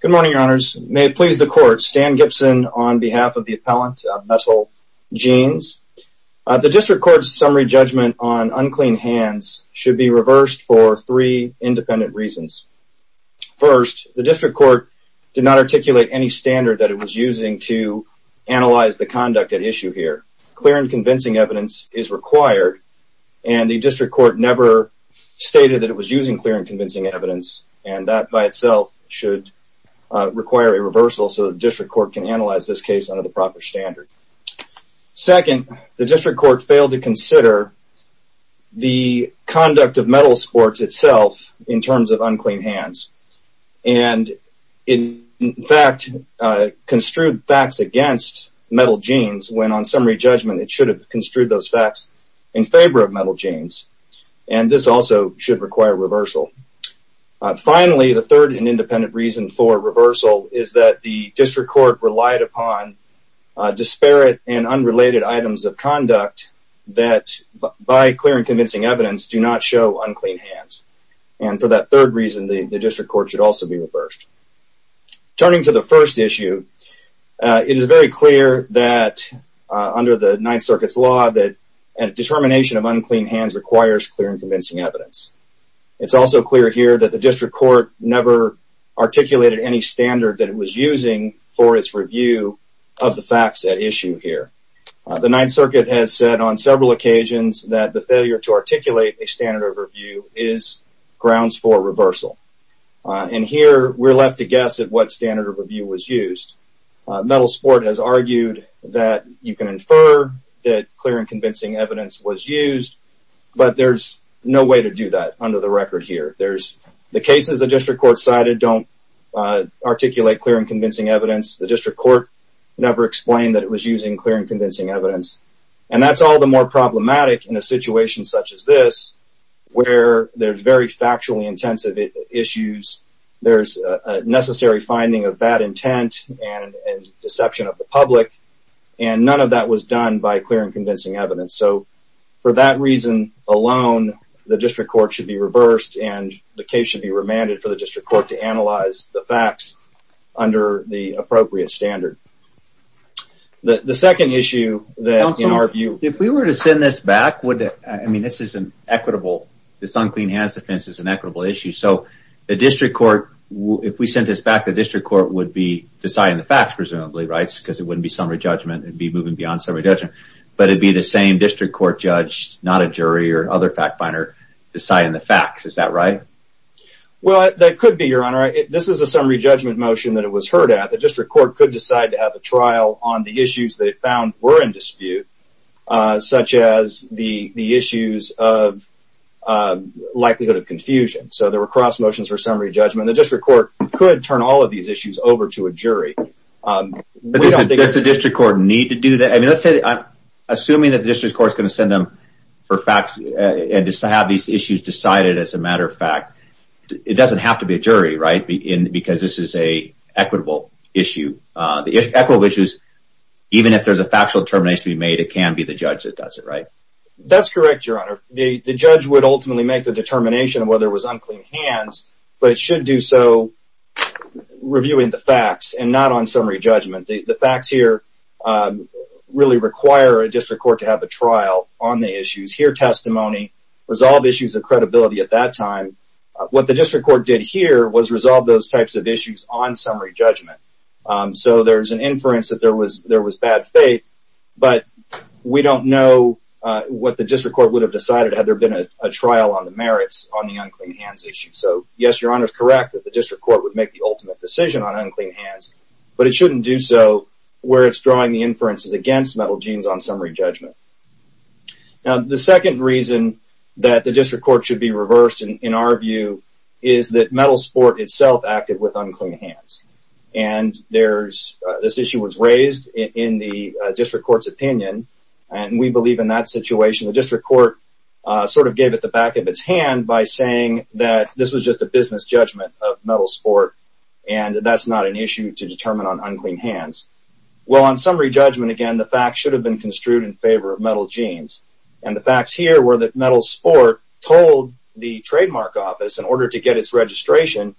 Good morning, your honors. May it please the court, Stan Gibson on behalf of the appellant of Metal Jeans. The district court's summary judgment on unclean hands should be reversed for three independent reasons. First, the district court did not articulate any standard that it was using to analyze the conduct at issue here. Clear and convincing evidence is required and the district court never stated that it was using clear and convincing evidence and that by itself should require a reversal so the district court can analyze this case under the proper standard. Second, the district court failed to consider the conduct of Metal Sports itself in terms of unclean hands and in fact construed facts against Metal Jeans when on summary judgment it should have construed those facts in favor of Metal Jeans and this also should require reversal. Finally, the third and independent reason for reversal is that the district court relied upon disparate and unrelated items of conduct that by clear and convincing evidence do not show unclean hands and for that third reason the district court should also be reversed. Turning to the first issue, it is very clear that under the Ninth Circuit's law that a determination of it's also clear here that the district court never articulated any standard that it was using for its review of the facts at issue here. The Ninth Circuit has said on several occasions that the failure to articulate a standard of review is grounds for reversal and here we're left to guess at what standard of review was used. Metal Sport has argued that you can infer that clear and convincing evidence the district court never explained that it was using clear and convincing evidence and that's all the more problematic in a situation such as this where there's very factually intensive issues there's a necessary finding of bad intent and deception of the public and none of that was done by clear and convincing evidence so for that reason alone the district court should be reversed and the case should be remanded for the district court to analyze the facts under the appropriate standard. The second issue that in our view if we were to send this back would I mean this is an equitable this unclean hands defense is an equitable issue so the district court if we sent this back the district court would be deciding the facts presumably rights because it wouldn't be summary judgment and be moving beyond summary judgment but it'd be the same district court judge not a jury or other fact finder deciding the facts is that right? Well that could be your honor this is a summary judgment motion that it was heard at the district court could decide to have a trial on the issues they found were in dispute such as the the issues of likelihood of confusion so there were cross motions for summary judgment the district court could turn all of these issues over to a jury. Does the district court need to do that I mean let's say that I'm assuming that the district court is going to send them for facts and just to have these issues decided as a matter of fact it doesn't have to be a jury right in because this is a equitable issue the equitable issues even if there's a factual determination to be made it can be the judge that does it right? That's correct your honor the the judge would ultimately make the determination of whether it was unclean hands but it should do so reviewing the facts and not on summary judgment the facts here really require a district court to have a trial on the issues here testimony resolve issues of credibility at that time what the district court did here was resolve those types of issues on summary judgment so there's an inference that there was there was bad faith but we don't know what the district court would have decided had there been a trial on the merits on the unclean hands issue so yes your honor is correct that the district court would make the drawing the inferences against metal genes on summary judgment now the second reason that the district court should be reversed and in our view is that metal sport itself acted with unclean hands and there's this issue was raised in the district courts opinion and we believe in that situation the district court sort of gave it the back of its hand by saying that this was just a business judgment of metal sport and that's not an issue to determine on unclean hands well on summary judgment again the fact should have been construed in favor of metal jeans and the facts here were that metal sport told the trademark office in order to get its registration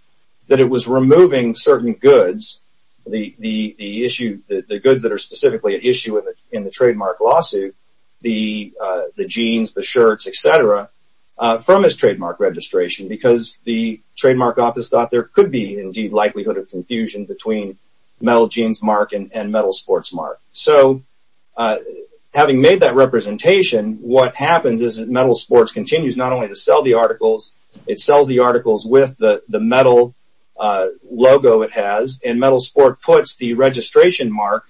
that it was removing certain goods the the issue the goods that are specifically at issue with it in the trademark lawsuit the the jeans the shirts etc from his trademark registration because the trademark office thought there could be indeed likelihood of confusion between metal jeans mark and metal sports mark so having made that representation what happens is that metal sports continues not only to sell the articles it sells the articles with the the metal logo it has and metal sport puts the registration mark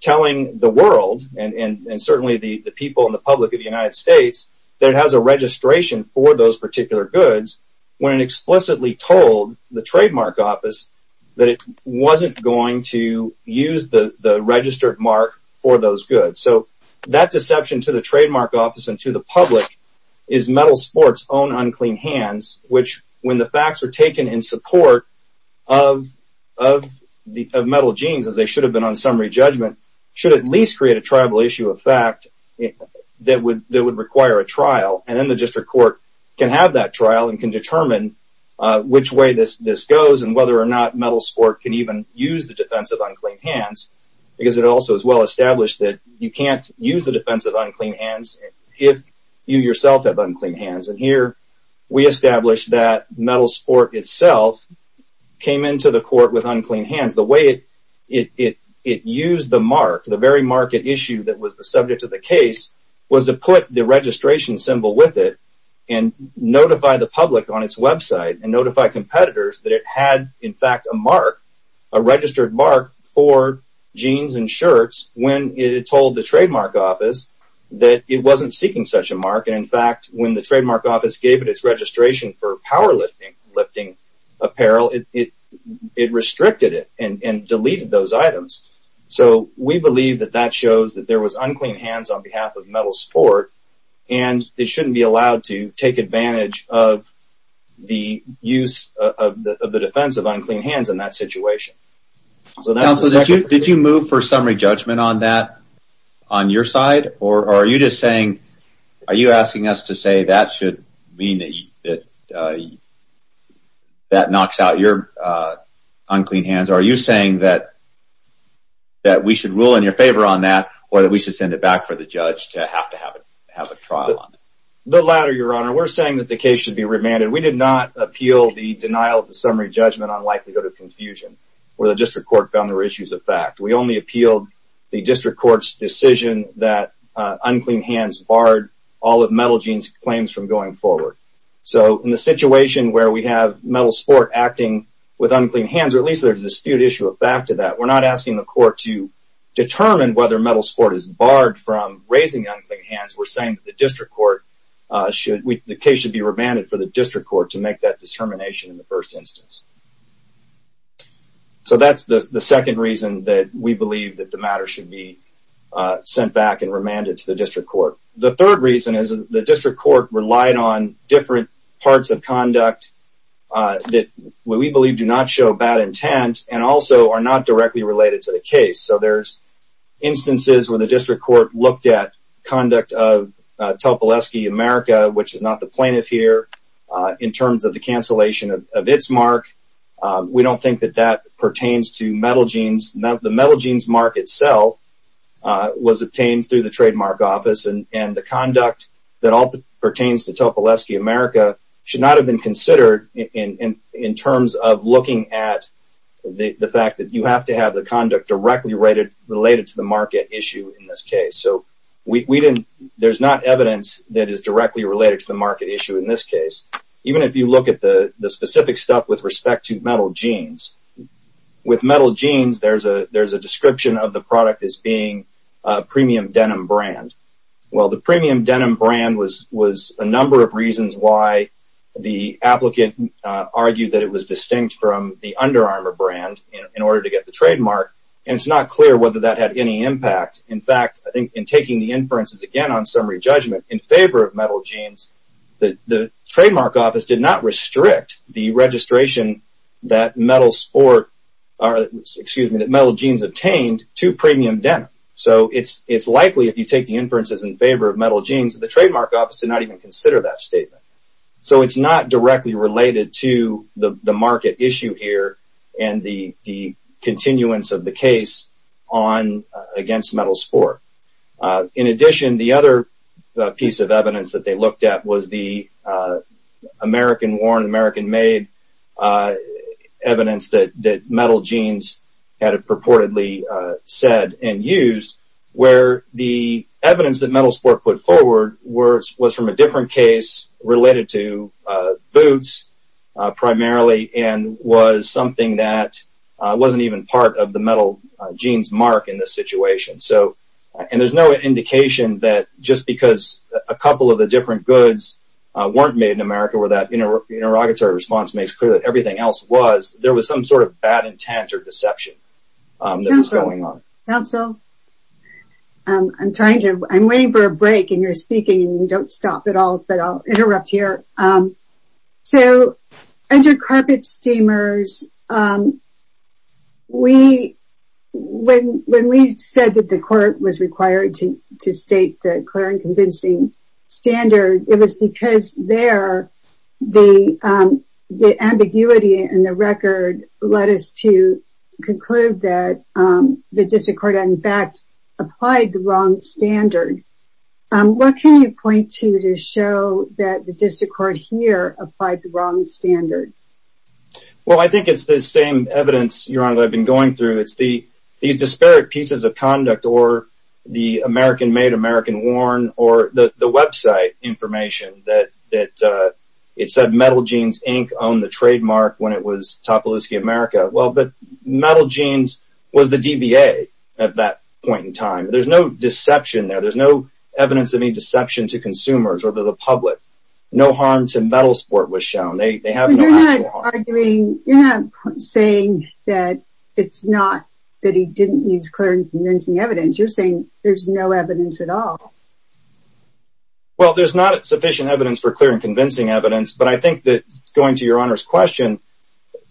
telling the world and and and certainly the people in the public of the United States that has a registration for those particular goods when explicitly told the trademark office that it wasn't going to use the registered mark for those goods so that deception to the trademark office and to the public is metal sports own unclean hands which when the facts are taken in support of of the metal jeans as they should have been on summary judgment should at least create a tribal issue of fact that would that would require a determine which way this this goes and whether or not metal sport can even use the defense of unclean hands because it also is well established that you can't use the defense of unclean hands if you yourself have unclean hands and here we established that metal sport itself came into the court with unclean hands the way it it it used the mark the very market issue that was the subject of the put the registration symbol with it and notify the public on its website and notify competitors that it had in fact a mark a registered mark for jeans and shirts when it told the trademark office that it wasn't seeking such a market in fact when the trademark office gave it its registration for powerlifting lifting apparel it it it restricted it and and deleted those items so we believe that that shows that there was unclean hands on behalf of metal sport and it shouldn't be allowed to take advantage of the use of the defense of unclean hands in that situation did you move for summary judgment on that on your side or are you just saying are you asking us to say that should mean that that knocks out your unclean hands are you saying that that we should rule in your favor on that or that we should send it back for the judge to have to have it have a trial on the latter your honor we're saying that the case should be remanded we did not appeal the denial of the summary judgment on likelihood of confusion where the district court found there were issues of fact we only appealed the district courts decision that unclean hands barred all of metal claims from going forward so in the situation where we have metal sport acting with unclean hands or at least there's a dispute issue of back to that we're not asking the court to determine whether metal sport is barred from raising unclean hands we're saying that the district court should the case should be remanded for the district court to make that determination in the first instance so that's the second reason that we believe that the matter should be sent back and remanded to the district court the third reason is the district court relied on different parts of conduct that what we believe do not show bad intent and also are not directly related to the case so there's instances where the district court looked at conduct of Topolesky America which is not the plaintiff here in terms of the cancellation of its mark we don't think that that pertains to metal jeans the metal jeans mark itself was obtained through the trademark office and and the conduct that all pertains to Topolesky America should not have been considered in in terms of looking at the fact that you have to have the conduct directly rated related to the market issue in this case so we didn't there's not evidence that is directly related to the market issue in this case even if you look at the the specific stuff with respect to metal jeans with metal jeans there's a there's a description of the denim brand well the premium denim brand was was a number of reasons why the applicant argued that it was distinct from the Under Armour brand in order to get the trademark and it's not clear whether that had any impact in fact I think in taking the inferences again on summary judgment in favor of metal jeans the the trademark office did not restrict the registration that metal sport or excuse me that metal jeans obtained to premium denim so it's it's likely if you take the inferences in favor of metal jeans the trademark office did not even consider that statement so it's not directly related to the market issue here and the the continuance of the case on against metal sport in addition the other piece of evidence that they looked at was the American worn American made evidence that that metal jeans had a purportedly said and used where the evidence that metal sport put forward words was from a different case related to boots primarily and was something that wasn't even part of the metal jeans mark in this situation so and there's no indication that just because a couple of the different goods weren't made in America where that you know interrogatory response makes clear that everything else was there was some sort of bad intent or deception going on counsel I'm trying to I'm waiting for a break and you're speaking and you don't stop at all but I'll interrupt here so under carpet steamers we when when we said that the court was required to state the clear and convincing standard it was because there the the ambiguity in the record led us to conclude that the district court in fact applied the wrong standard what can you point to to show that the district court here applied the wrong standard well I think it's the same evidence your honor I've been going through it's the these disparate pieces of conduct or the American made American worn or the website information that that it said metal jeans Inc. on the trademark when it was top of the ski America well but metal jeans was the DBA at that point in time there's no deception there there's no evidence of any deception to consumers or the public no harm to metal sport was shown they have arguing you know saying that it's not that he didn't use clear and convincing evidence you're there's no evidence at all well there's not sufficient evidence for clear and convincing evidence but I think that going to your honors question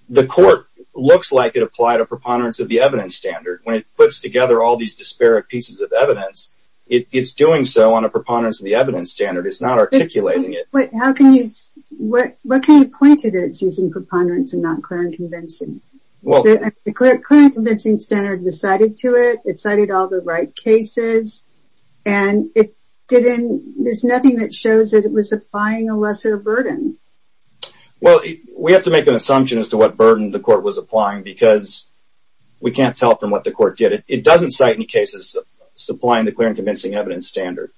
the court looks like it applied a preponderance of the evidence standard when it puts together all these disparate pieces of evidence it's doing so on a preponderance of the evidence standard it's not articulating it but how can you what what can you point to that it's using preponderance and not clear and convincing well the clear clear and convincing standard decided to it it right cases and it didn't there's nothing that shows that it was applying a lesser burden well we have to make an assumption as to what burden the court was applying because we can't tell from what the court did it it doesn't cite any cases supplying the clear and convincing evidence standard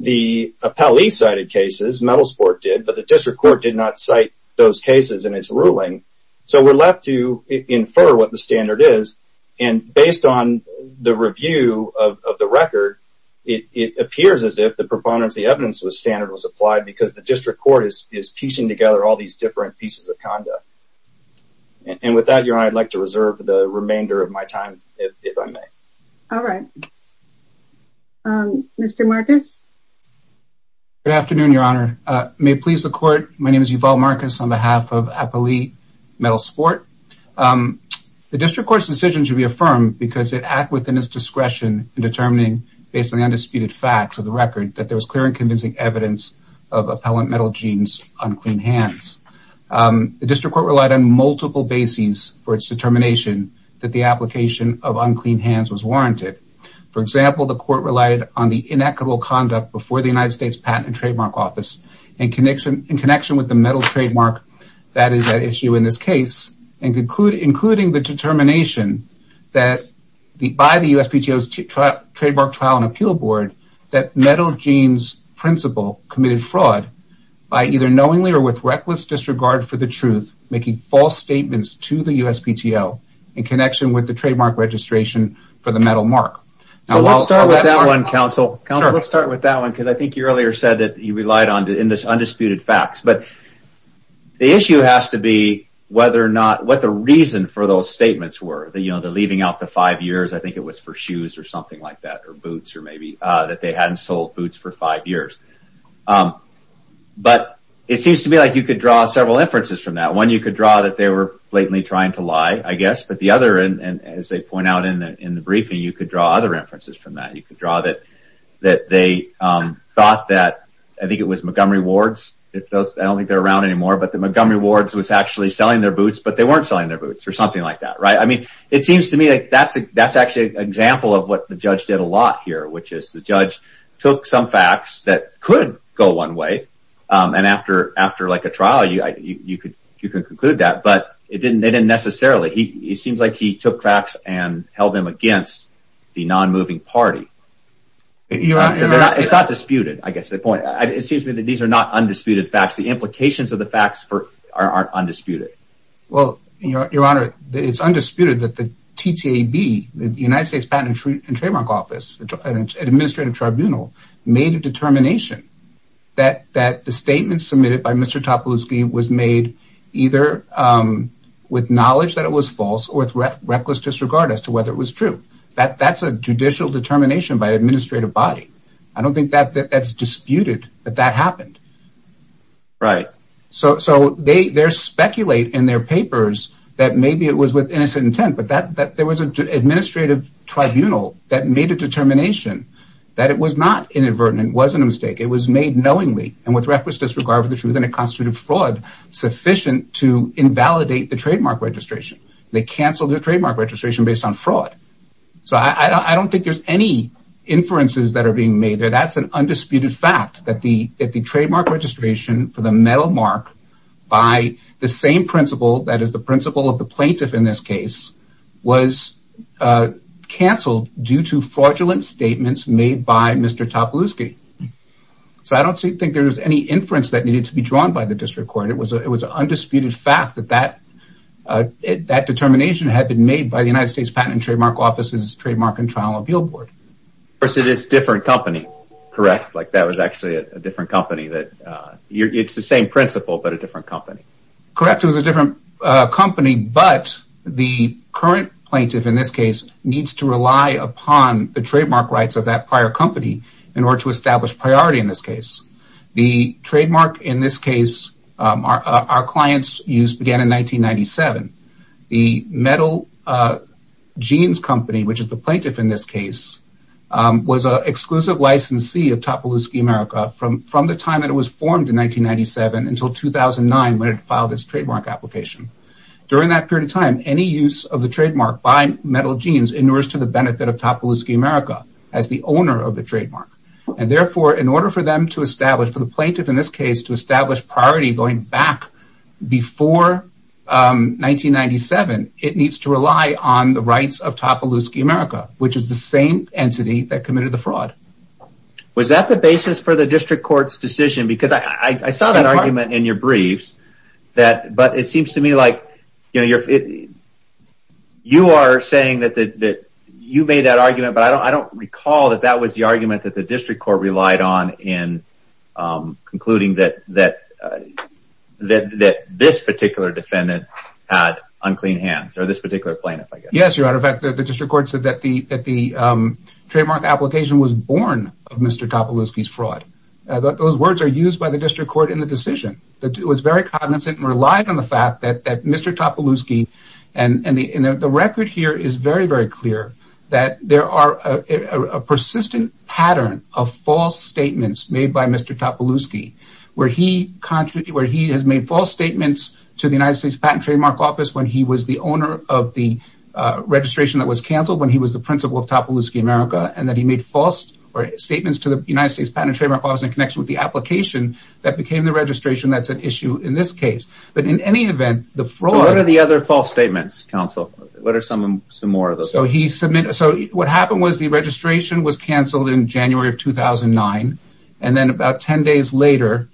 the appellee cited cases metal sport did but the district court did not cite those cases in its ruling so we're left to infer what the standard is and based on the review of the record it appears as if the proponents the evidence with standard was applied because the district court is piecing together all these different pieces of conduct and with that you're I'd like to reserve the remainder of my time if I may all right mr. Marcus good afternoon your honor may please the court my name is Yuval Marcus on behalf of appellee metal sport the discretion in determining basically undisputed facts of the record that there was clear and convincing evidence of appellant metal jeans on clean hands the district court relied on multiple bases for its determination that the application of unclean hands was warranted for example the court relied on the inequitable conduct before the United States Patent and Trademark Office and connection in connection with the metal trademark that is an issue in this case and conclude including the determination that the by the USPTO's trademark trial and appeal board that metal jeans principal committed fraud by either knowingly or with reckless disregard for the truth making false statements to the USPTO in connection with the trademark registration for the metal mark now let's start with that one counsel let's start with that one because I think you earlier said that you relied on to in this undisputed facts but the issue has to be whether or not what the reason for those statements were that you know they're leaving out the five years I think it was for shoes or something like that or boots or maybe that they hadn't sold boots for five years but it seems to me like you could draw several inferences from that one you could draw that they were blatantly trying to lie I guess but the other and as they point out in the briefing you could draw other inferences from that you could draw that that they thought that I think it was Montgomery wards if those I don't think they're around anymore but the Montgomery wards was actually selling their boots but they weren't selling their boots or something like that right I mean it seems to me like that's a that's actually an example of what the judge did a lot here which is the judge took some facts that could go one way and after after like a trial you could you could conclude that but it didn't they didn't necessarily he seems like he took cracks and held them against the non-moving party it's not disputed I guess the point it seems to me that these are not undisputed facts the implications of the facts for aren't undisputed well you know your honor it's undisputed that the TTAB the United States Patent and Trademark Office administrative tribunal made a determination that that the statement submitted by mr. top of the scheme was made either with knowledge that it was false or with reckless disregard as to whether it was true that that's a judicial determination by administrative body I don't think that that's disputed but that happened right so so they they're speculate in their papers that maybe it was with innocent intent but that that there was an administrative tribunal that made a determination that it was not inadvertent wasn't a mistake it was made knowingly and with reckless disregard for the truth and a constitutive fraud sufficient to invalidate the trademark registration they canceled the trademark registration based on fraud so I don't think there's any inferences that are being made there that's an undisputed fact that the at the trademark registration for the metal mark by the same principle that is the principle of the plaintiff in this case was canceled due to fraudulent statements made by mr. top of the scheme so I don't think there's any inference that needed to be drawn by the district court it was it was an undisputed fact that that that determination had been made by the United States Patent and Trial and Appeal Board versus this different company correct like that was actually a different company that it's the same principle but a different company correct it was a different company but the current plaintiff in this case needs to rely upon the trademark rights of that prior company in order to establish priority in this case the trademark in this case our clients use began in 1997 the metal jeans company which is the plaintiff in this case was an exclusive licensee of top of the scheme from from the time it was formed in 1997 until 2009 when it filed its trademark application during that period of time any use of the trademark by metal jeans in order to the benefit of top of the scheme as the owner of the trademark and therefore in order for them to establish for the plaintiff in this case to establish priority going back before 1997 it needs to rely on the rights of top of Lewinsky America which is the same entity that committed the fraud was that the basis for the district courts decision because I saw that argument in your briefs that but it seems to me like you know you're you are saying that that you made that argument but I don't I don't recall that that was the argument that the district court relied on in concluding that that that that this particular defendant had unclean hands or this particular plan yes your honor fact that the district court said that the that the trademark application was born of mr. top of whiskey's fraud but those words are used by the district court in the decision that it was very cognizant and relied on the fact that that mr. top of Lewinsky and and the in the record here is very very clear that there are a persistent pattern of false statements made by mr. top of Lewinsky where he contrary where he has made false statements to the United States Patent Trademark Office when he was the owner of the registration that was canceled when he was the principal of top of Lewinsky America and that he made false or statements to the United States Patent Trademark Office in connection with the application that became the registration that's an issue in this case but in any event the fraud of the other false statements counsel what are some of some of the so he submitted so what happened was the registration was canceled in January of 2009 and then about 10 days later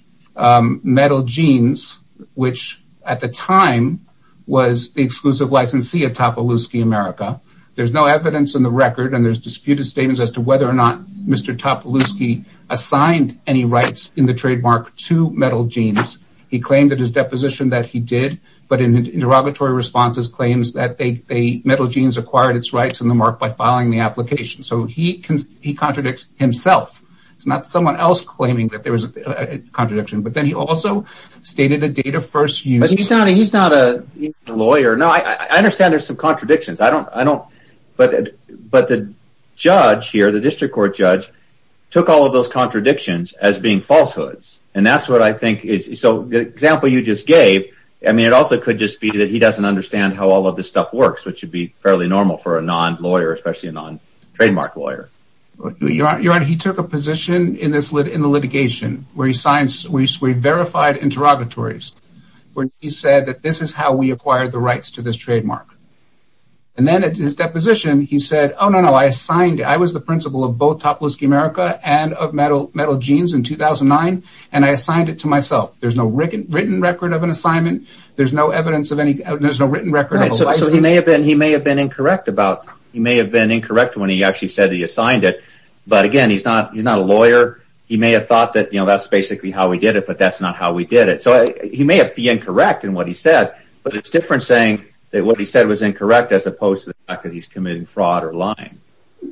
metal jeans which at the time was the exclusive licensee at top of Lewinsky America there's no evidence in the record and there's disputed statements as to whether or not mr. top of Lewinsky assigned any rights in the trademark to metal jeans he claimed that his deposition that he did but in interrogatory responses claims that they metal jeans acquired its rights in the mark by filing the application so he contradicts himself it's not someone else claiming that there was a contradiction but then he also stated a data first you know he's not a lawyer no I understand there's some contradictions I don't I don't but but the judge here the district court judge took all of those contradictions as being falsehoods and that's what I think is so the example you just gave I mean it also could just be that he doesn't understand how all of this stuff works which would be fairly normal for a non-lawyer especially a non trademark lawyer your honor he took a position in this lid in the litigation where he signs we've verified interrogatories when he said that this is how we acquired the rights to this trademark and then at his deposition he said oh no no I assigned I was the principal of both top Lewinsky America and of metal metal jeans in 2009 and I assigned it to myself there's no written written record of an assignment there's no evidence of any there's no written record so he may have been he may have been incorrect about he may have been incorrect when he actually said he assigned it but again he's not he's not a lawyer he may have thought that you know that's basically how we did it but that's not how we did it so he may have be incorrect in what he said but it's different saying that what he said was incorrect as opposed to the fact that he's committing fraud or lying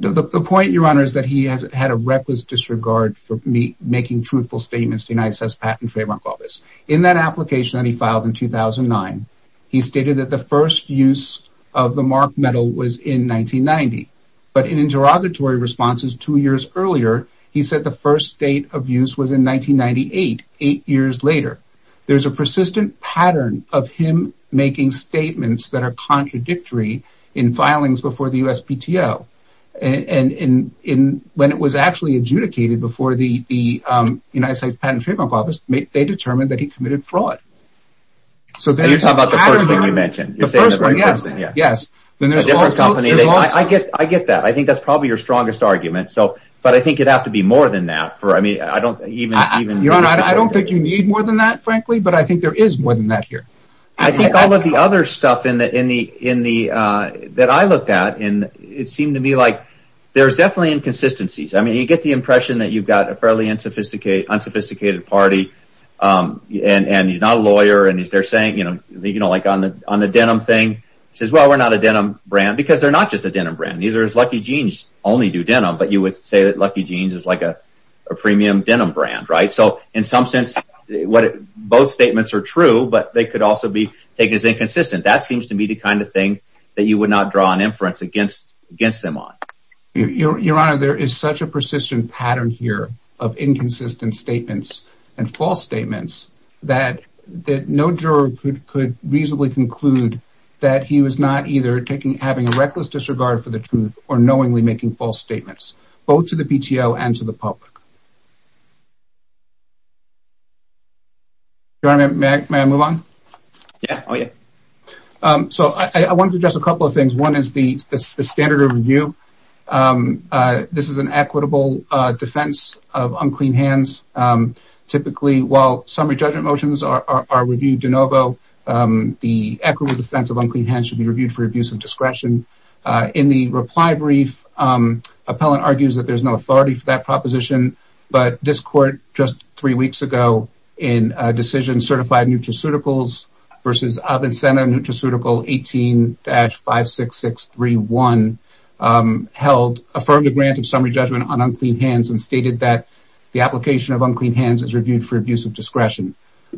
the point your honor is that he has had a reckless disregard for me making truthful statements the United States Patent and Trademark Office in that application that he filed in 2009 he stated that the first use of the marked metal was in 1990 but in interrogatory responses two years earlier he said the first date of use was in 1998 eight years later there's a persistent pattern of him making statements that are contradictory in filings before the USPTO and in in when it was actually adjudicated before the United States Patent and Trademark Office they determined that he committed fraud so you're talking about the first thing you mentioned yes yes I get I get that I think that's probably your strongest argument so but I think it'd have to be more than that for I mean I don't even your honor I don't think you need more than that frankly but I think there is more than that here I think all of the other stuff in the in the in the that I looked at and it seemed to me like there's definitely inconsistencies I mean you get the impression that you've got a fairly unsophisticated unsophisticated party and and he's not a lawyer and if they're saying you know you know like on the on the denim thing says well we're not a denim brand because they're not just a denim brand these are as lucky jeans only do denim but you would say that lucky jeans is like a premium denim brand right so in some sense what both statements are true but they could also be taken as inconsistent that seems to me the kind of thing that you would not draw an inference against against them on your your honor there is such a persistent pattern here of inconsistent statements and false statements that that no juror could could reasonably conclude that he was not either taking having a reckless disregard for the truth or knowingly making false statements both to the PTO and to the public you're on a Mac man move on yeah oh yeah so I want to just a couple of things one is the standard of review this is an equitable defense of unclean hands typically while summary judgment motions are reviewed de novo the equity defense of unclean hands should be reviewed for abuse of discretion in the reply brief appellant argues that there's no authority for that proposition but this court just three weeks ago in a decision certified nutraceuticals versus incentive nutraceutical 18-5 6 6 3 1 held affirmed a grant of summary judgment on unclean hands and stated that the application of unclean hands is reviewed for abuse of discretion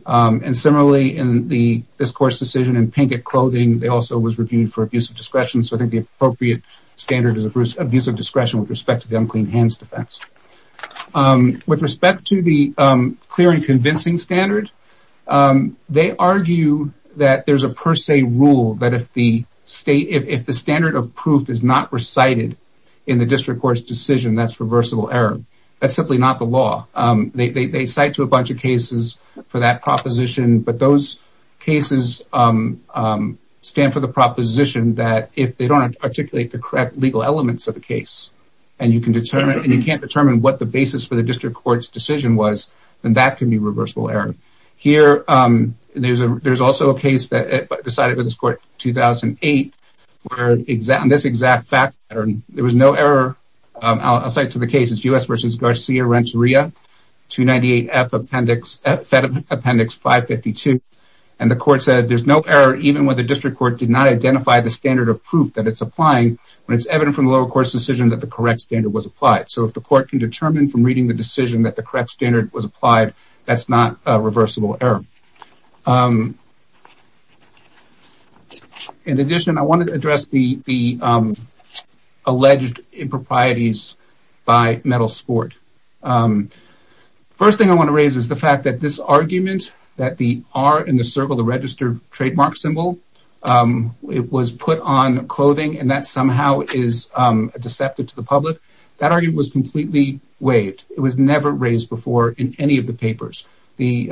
and similarly in the this course decision in pink at clothing they also was reviewed for abuse of discretion so I think the appropriate standard is a bruise abuse of discretion with respect to the unclean hands defense with respect to the clear and convincing standard they argue that there's a per se rule that if the state if the standard of proof is not recited in the district courts decision that's reversible error that's simply not the law they cite to a bunch of cases for that proposition but those cases stand for the proposition that if they don't articulate the correct legal elements of the case and you can determine you can't determine what the basis for the district courts decision was and that can be reversible error here there's a there's decided with this court 2008 where exact in this exact fact there was no error I'll cite to the case it's u.s. vs. Garcia Renteria 298 F appendix at Fed appendix 552 and the court said there's no error even when the district court did not identify the standard of proof that it's applying when it's evident from the lower course decision that the correct standard was applied so if the court can determine from reading the decision that the correct standard was in addition I wanted to address the the alleged improprieties by metal sport first thing I want to raise is the fact that this argument that the are in the circle the registered trademark symbol it was put on clothing and that somehow is deceptive to the public that argument was completely waived it was never raised before in any of the papers the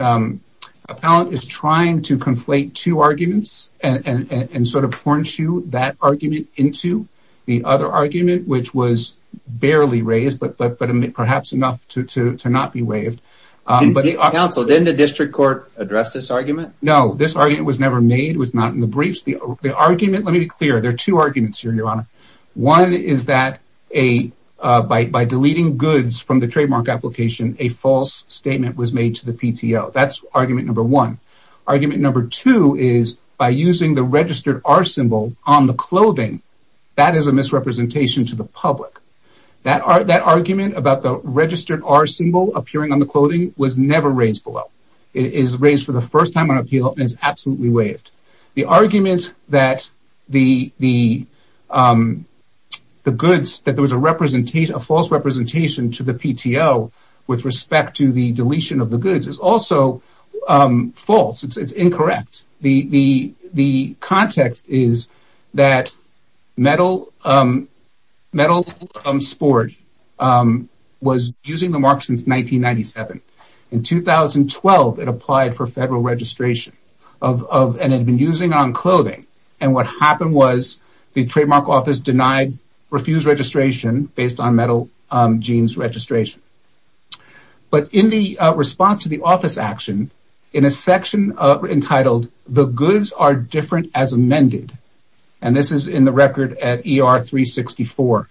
appellant is trying to conflate two arguments and and sort of foreign shoe that argument into the other argument which was barely raised but but but I mean perhaps enough to not be waived but the council didn't the district court address this argument no this argument was never made was not in the briefs the argument let me be clear there are two arguments here your honor one is that a bite by deleting goods from the false statement was made to the PTO that's argument number one argument number two is by using the registered our symbol on the clothing that is a misrepresentation to the public that are that argument about the registered our symbol appearing on the clothing was never raised below it is raised for the first time on appeal is absolutely waived the argument that the the the goods that there was a representation of false representation to the PTO with respect to the deletion of the goods is also false it's incorrect the the the context is that metal metal sport was using the mark since 1997 in 2012 it applied for federal registration of and had been using on clothing and what happened was the trademark office denied refused registration based on metal jeans registration but in the response to the office action in a section of entitled the goods are different as amended and this is in the record at er 364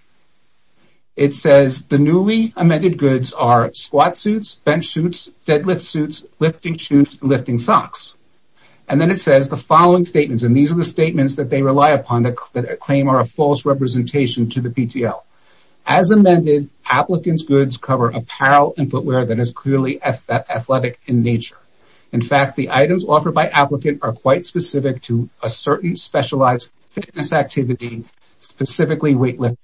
it says the newly amended goods are squat suits bench suits deadlift suits lifting shoes lifting socks and then it says the following statements and these are the statements that they rely upon that claim are a false representation to the PTL as amended applicants goods cover apparel and footwear that is clearly athletic in nature in fact the items offered by applicant are quite specific to a certain specialized fitness activity specifically weight lift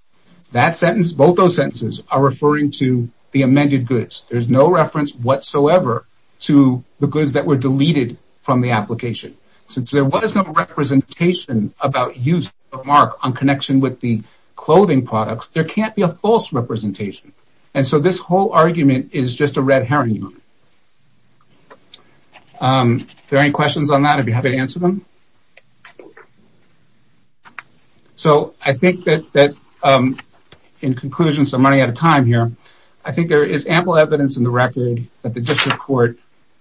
that sentence both those sentences are referring to the amended goods there's no reference whatsoever to the goods that were deleted from the application since there was no representation about use of mark on clothing products there can't be a false representation and so this whole argument is just a red herring there any questions on that if you have it answer them so I think that that in conclusion some money at a time here I think there is ample evidence in the record that the district court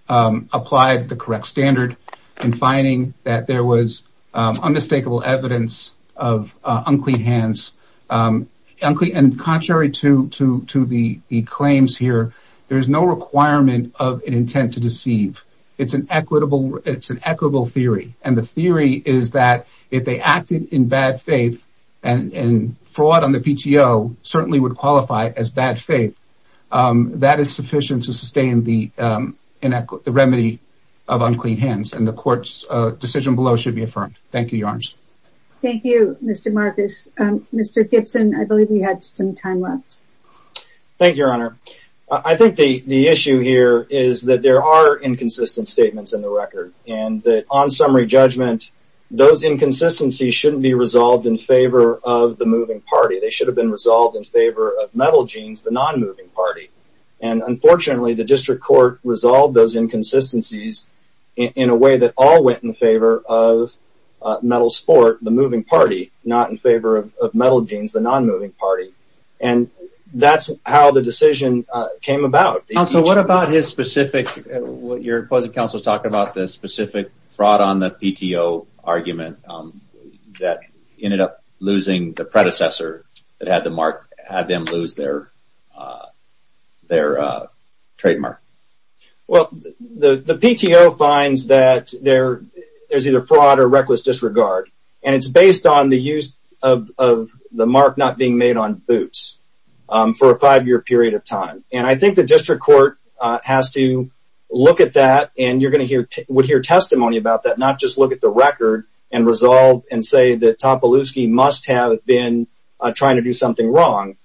applied the correct standard in finding that there was unmistakable evidence of unclean hands unclean and contrary to to to the claims here there is no requirement of an intent to deceive it's an equitable it's an equitable theory and the theory is that if they acted in bad faith and and fraud on the PTO certainly would qualify as bad faith that is sufficient to sustain the inequity remedy of unclean hands and the courts decision below should be affirmed thank you yarns thank you mr. Marcus mr. Gibson I believe we had some time left thank your honor I think the the issue here is that there are inconsistent statements in the record and that on summary judgment those inconsistencies shouldn't be resolved in favor of the moving party they should have been resolved in favor of metal jeans the non-moving party and unfortunately the district court resolved those inconsistencies in a way that all went in favor of metal sport the moving party not in favor of metal jeans the non-moving party and that's how the decision came about also what about his specific what your opposite counsel talked about this specific fraud on the PTO argument that ended up losing the predecessor that had the mark had them lose their their trademark well the it's based on the use of the mark not being made on boots for a five-year period of time and I think the district court has to look at that and you're going to hear would hear testimony about that not just look at the record and resolve and say that top of loose key must have been trying to do something wrong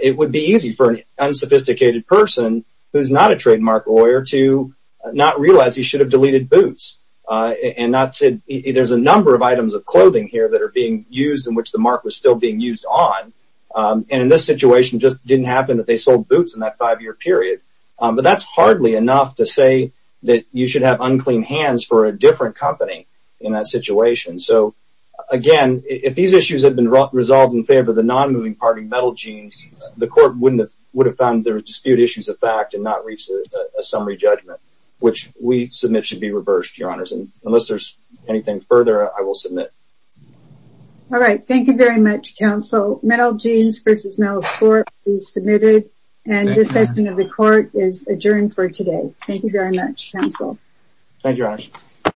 it would be easy for an unsophisticated person who's not a trademark lawyer to not realize he should have deleted boots and not said there's a number of items of clothing here that are being used in which the mark was still being used on and in this situation just didn't happen that they sold boots in that five-year period but that's hardly enough to say that you should have unclean hands for a different company in that situation so again if these issues have been resolved in favor of the non-moving party metal jeans the court wouldn't have would have found their dispute issues of fact and not reach a summary judgment which we submit should be reversed your honors and unless there's anything further I will submit all right thank you very much counsel metal jeans versus no score is submitted and the session of the court is adjourned for today thank you very much counsel thank you